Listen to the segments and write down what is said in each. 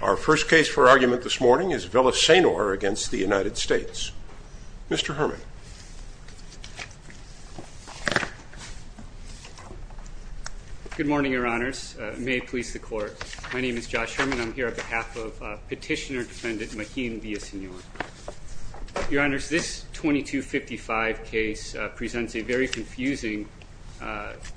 Our first case for argument this morning is Villasenor v. United States. Mr. Herman. Good morning, your honors. May it please the court. My name is Josh Herman. I'm here on behalf of Petitioner Defendant Majin Villasenor. Your honors, this 2255 case presents a very confusing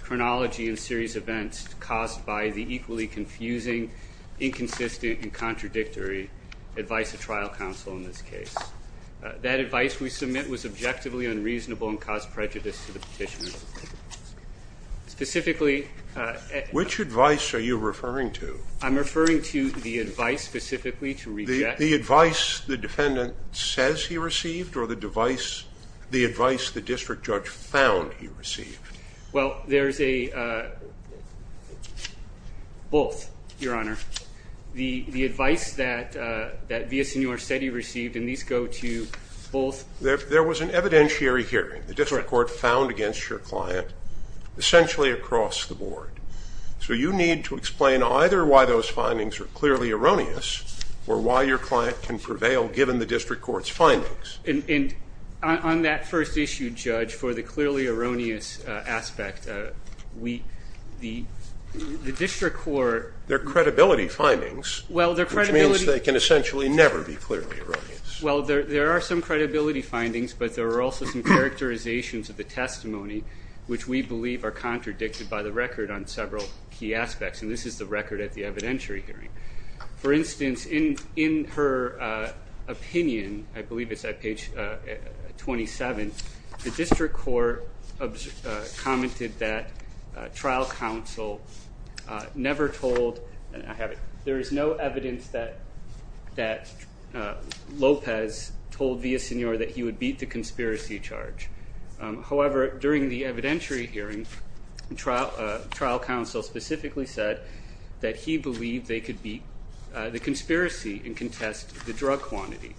chronology and series events caused by the equally confusing, inconsistent, and contradictory advice of trial counsel in this case. That advice we submit was objectively unreasonable and caused prejudice to the petitioner. Specifically, which advice are you referring to? I'm referring to the advice specifically to reject. The advice the defendant says he received or the device the advice the district judge found he received. Well, there's a both, your honor. The advice that Villasenor said he received and these go to both. There was an evidentiary hearing the district court found against your client essentially across the board. So you need to explain either why those findings are clearly erroneous or why your client can prevail given the district court's findings. And on that first issue, judge, for the clearly erroneous aspect, the district court. They're credibility findings. Well, their credibility. Which means they can essentially never be clearly erroneous. Well, there are some credibility findings, but there are also some characterizations of the testimony which we believe are contradicted by the record on several key aspects. And this is the record at the evidentiary hearing. For instance, in her opinion, I believe it's at page 27, the district court commented that trial counsel never told, and I have it, there is no evidence that Lopez told Villasenor that he would beat the conspiracy charge. However, during the evidentiary hearing, trial counsel specifically said that he believed they could beat the conspiracy and contest the drug quantity.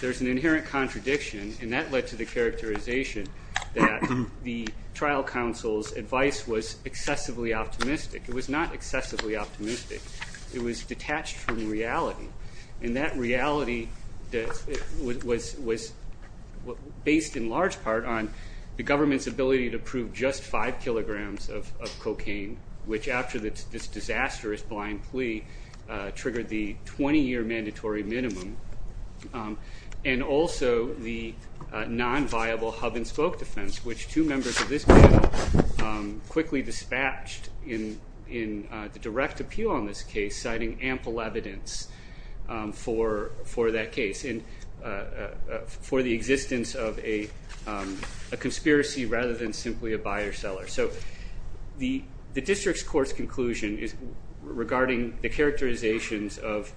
There's an inherent contradiction, and that led to the characterization that the trial counsel's advice was excessively optimistic. It was not excessively optimistic. It was detached from reality. And that reality was based in large part on the government's ability to prove just five kilograms of cocaine, which after this disastrous blind plea triggered the 20-year mandatory minimum, and also the non-viable hub-and-spoke defense, which two members of this panel quickly dispatched in the direct appeal on this case, citing ample evidence for that case, and for the existence of a conspiracy rather than simply a buyer-seller. So the district's court's conclusion regarding the characterizations of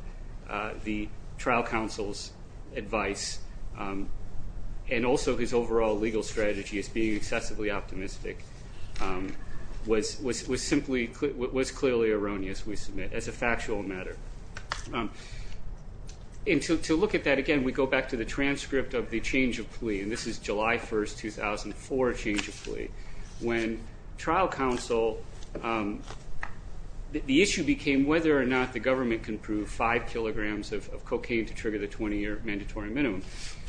the trial counsel's advice, and also his overall legal strategy as being excessively optimistic, was clearly erroneous, we submit, as a factual matter. And to look at that again, we go back to the transcript of the change of plea, and this is July 1, 2004 change of plea, when trial counsel, the issue became whether or not the government can prove five kilograms of cocaine to trigger the 20-year mandatory minimum.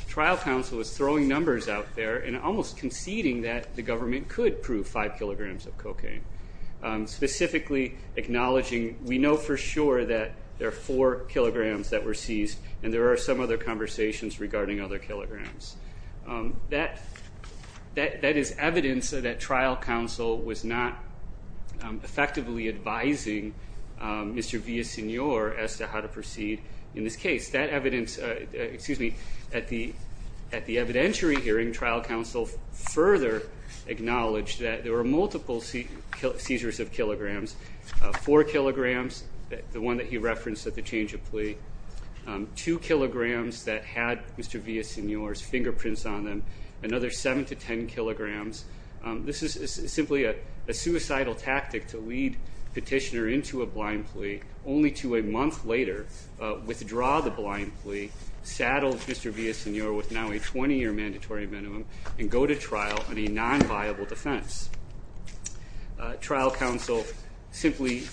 Trial counsel was throwing numbers out there and almost conceding that the government could prove five for sure that there are four kilograms that were seized, and there are some other conversations regarding other kilograms. That is evidence that trial counsel was not effectively advising Mr. Villasenor as to how to proceed in this case. That evidence, excuse me, at the evidentiary hearing, trial counsel further acknowledged that there were multiple seizures of kilograms, four kilograms, the one that he referenced at the change of plea, two kilograms that had Mr. Villasenor's fingerprints on them, another seven to ten kilograms. This is simply a suicidal tactic to lead petitioner into a blind plea, only to a month later withdraw the blind plea, saddle Mr. Villasenor with now a 20-year mandatory minimum, and go to trial on a unviable defense. Trial counsel simply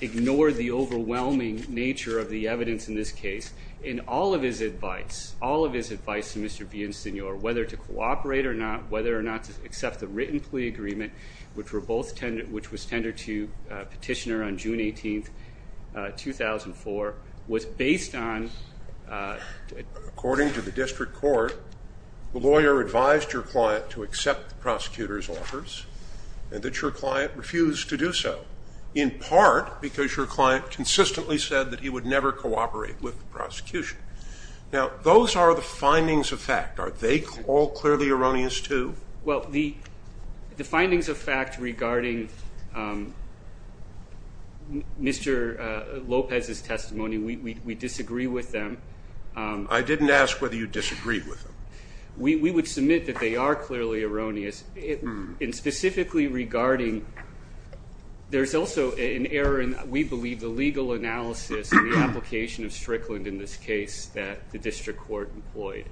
ignored the overwhelming nature of the evidence in this case in all of his advice, all of his advice to Mr. Villasenor, whether to cooperate or not, whether or not to accept the written plea agreement, which were both, which was tendered to petitioner on June 18, 2004, was based on... According to the district court, the lawyer advised your client to accept the prosecutor's offers, and that your client refused to do so, in part because your client consistently said that he would never cooperate with the prosecution. Now, those are the findings of fact. Are they all clearly erroneous too? Well, the findings of fact regarding Mr. Lopez's testimony, we disagree with them. I didn't ask whether you disagree with them. We would submit that they are clearly erroneous, and specifically regarding... There's also an error in, we believe, the legal analysis and the application of Strickland in this case that the district court employed,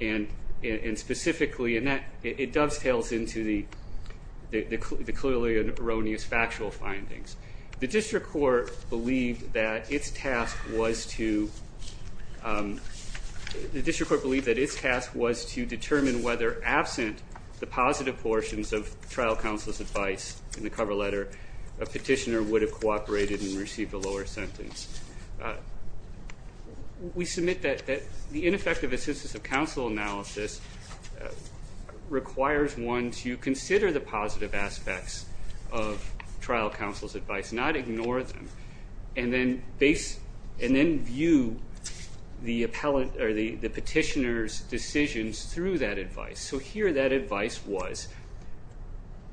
and specifically, and that it dovetails into the clearly erroneous factual findings. The district court believed that its task was to... The district court believed that its task was to determine whether, absent the positive portions of trial counsel's advice in the cover letter, a petitioner would have cooperated and received a lower sentence. We submit that the ineffective assistance of counsel analysis requires one to consider the positive aspects of trial counsel's advice, not ignore them, and then view the petitioner's decisions through that advice. So here, that advice was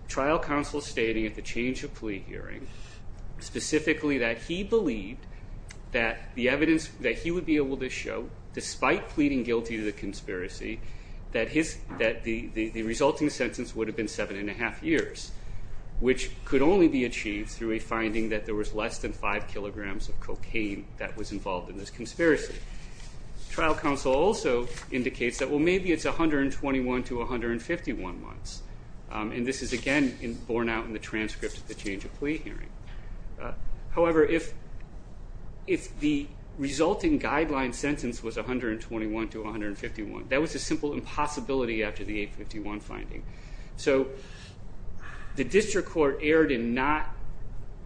trial counsel stating at the change of plea hearing, specifically, that he believed that the evidence that he would be able to show, despite pleading guilty to the conspiracy, that the resulting sentence would have been seven and a half years, which could only be achieved through a finding that there was less than five kilograms of cocaine that was involved in this conspiracy. Trial counsel also indicates that, well, maybe it's 121 to 151 months, and this is, again, borne out in the transcript of the change of plea hearing. However, if the resulting guideline sentence was 121 to 151, that was a simple impossibility after the 851 finding. So the district court erred in not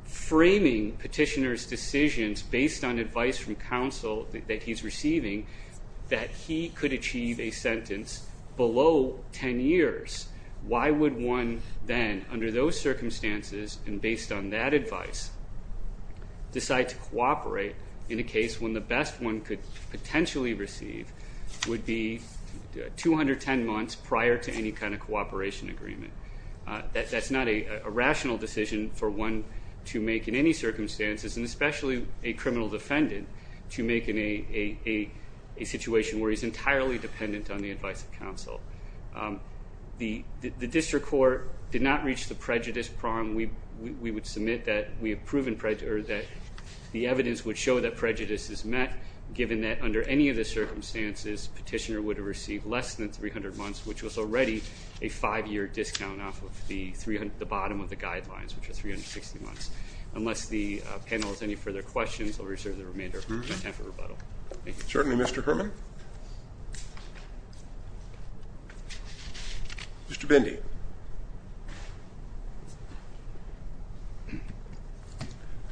framing petitioner's decisions based on advice from counsel that he's receiving, that he could achieve a sentence below 10 years. Why would one then, under those circumstances and based on that advice, decide to cooperate in a case when the best one could potentially receive would be 210 months prior to any kind of cooperation agreement? That's not a rational decision for one to make in any circumstances, and especially a criminal defendant, to make in a situation where he's entirely dependent on the advice of counsel. The district court did not reach the prejudice prong. We would submit that we have proven that the evidence would show that prejudice is met, given that under any of the circumstances, petitioner would have received less than 300 months, which was already a five-year discount off of the bottom of the guidelines, which are 360 months. Unless the panel has any further questions, I'll reserve the remainder of my time for rebuttal. Thank you. Certainly, Mr. Herman. Mr. Bindi.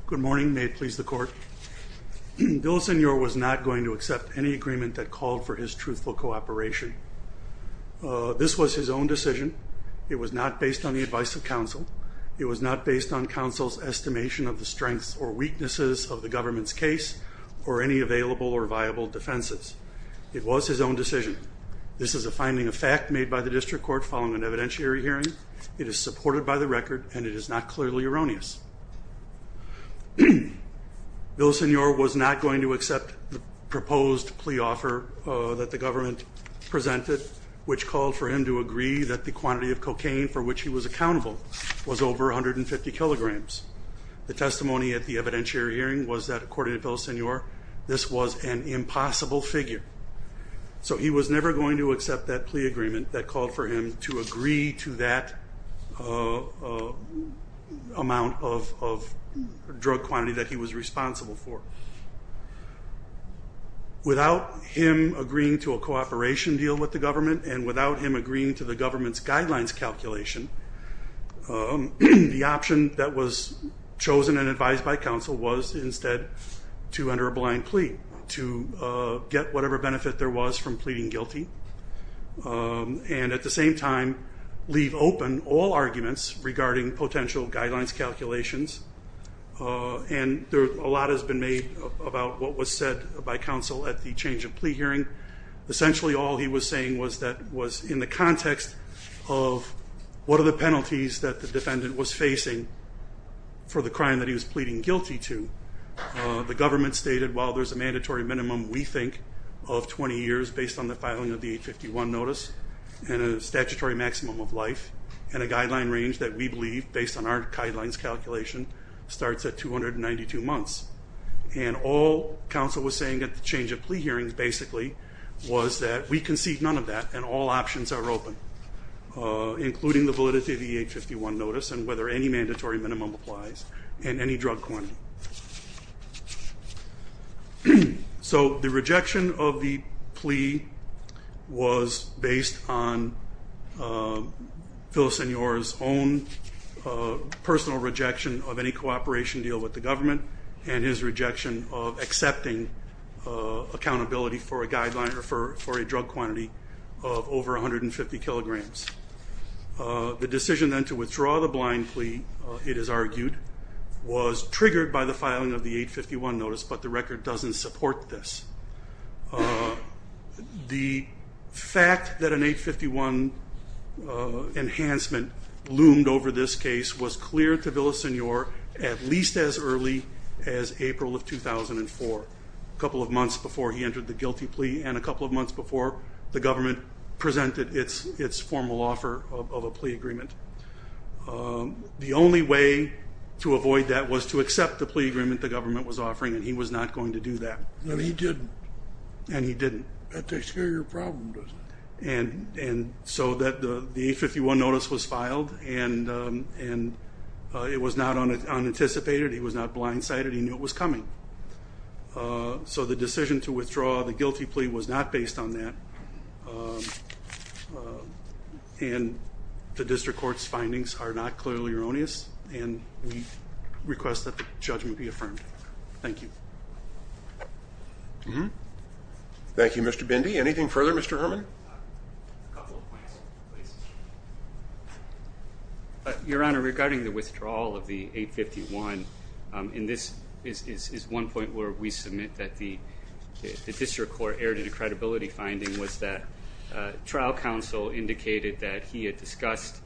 Good morning. May it please the court. Bill Signore was not going to accept any agreement that called for his truthful cooperation. This was his own decision. It was not based on the advice of counsel. It was not based on counsel's estimation of the strengths or weaknesses of the government's case, or any available or viable defenses. It was his own decision. This is a finding of fact made by the district court following an evidentiary hearing. It is supported by the record, and it is not clearly erroneous. Bill Signore was not going to accept the proposed plea offer that the government presented, which called for him to agree that the quantity of according to Bill Signore, this was an impossible figure. So he was never going to accept that plea agreement that called for him to agree to that amount of drug quantity that he was responsible for. Without him agreeing to a cooperation deal with the government, and without him agreeing to the government's guidelines calculation, the option that was chosen and advised by counsel was instead to enter a blind plea, to get whatever benefit there was from pleading guilty, and at the same time leave open all arguments regarding potential guidelines calculations. And a lot has been made about what was said by counsel at the change of plea hearing. Essentially all he was saying was that was in the context of what are the penalties that the The government stated while there's a mandatory minimum, we think, of 20 years based on the filing of the 851 notice, and a statutory maximum of life, and a guideline range that we believe, based on our guidelines calculation, starts at 292 months. And all counsel was saying at the change of plea hearings basically was that we concede none of that, and all options are open, including the validity of the 851 notice, and whether any mandatory minimum applies, and any drug quantity. So the rejection of the plea was based on Villasenor's own personal rejection of any cooperation deal with the government, and his rejection of accepting accountability for a guideline or for a drug quantity of over 150 kilograms. The decision then to withdraw the blind plea, it is argued, was triggered by the filing of the 851 notice, but the record doesn't support this. The fact that an 851 enhancement loomed over this case was clear to Villasenor at least as early as April of 2004, a couple of months before he entered the guilty plea, and a couple of months before the government presented its formal offer of a plea agreement. The only way to avoid that was to accept the plea agreement the government was offering, and he was not going to do that. And he didn't. And he didn't. That takes care of your problem, doesn't it? And so the 851 notice was filed, and it was not unanticipated, he was not blindsided, he knew it was coming. So the decision to withdraw the guilty plea was not based on that, and the district court's findings are not clearly erroneous, and we request that the judgment be affirmed. Thank you. Thank you, Mr. Bindi. Anything further, Mr. Herman? A couple of points, please. Your Honor, regarding the withdrawal of the 851, and this is one point where we submit that the district court erred in a credibility finding, was that trial counsel indicated that he had discussed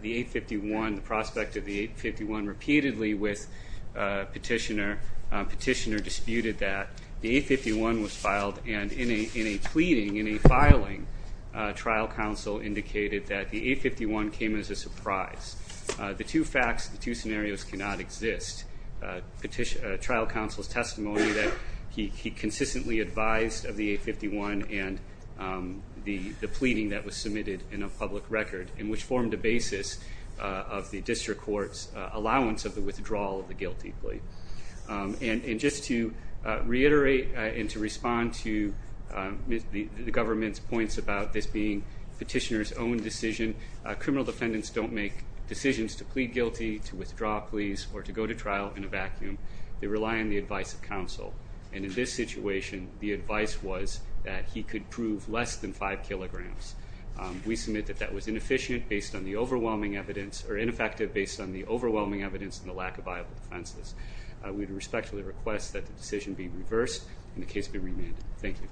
the 851, the prospect of the 851, repeatedly with Petitioner. Petitioner disputed that the 851 was filed, and in a pleading, in a filing, trial counsel indicated that the 851 came as a surprise. The two facts, the two scenarios cannot exist. Trial counsel's testimony that he consistently advised of the 851 and the pleading that was submitted in a public record, and which formed a basis of the district court's allowance of the withdrawal of the guilty plea. And just to reiterate and to respond to the government's points about this being Petitioner's own decision, criminal defendants don't make decisions to plead guilty, to withdraw pleas, or to go to trial in a vacuum. They rely on the advice of counsel, and in this situation, the advice was that he could prove less than five kilograms. We submit that that was inefficient based on the overwhelming evidence, or ineffective based on the overwhelming evidence and the lack of viable defenses. We respectfully request that the decision be reversed and the case be remanded. Thank you.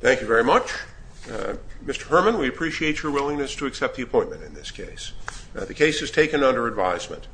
Thank you very much. Mr. Herman, we appreciate your willingness to accept the appointment in this case. The case is taken under advisement.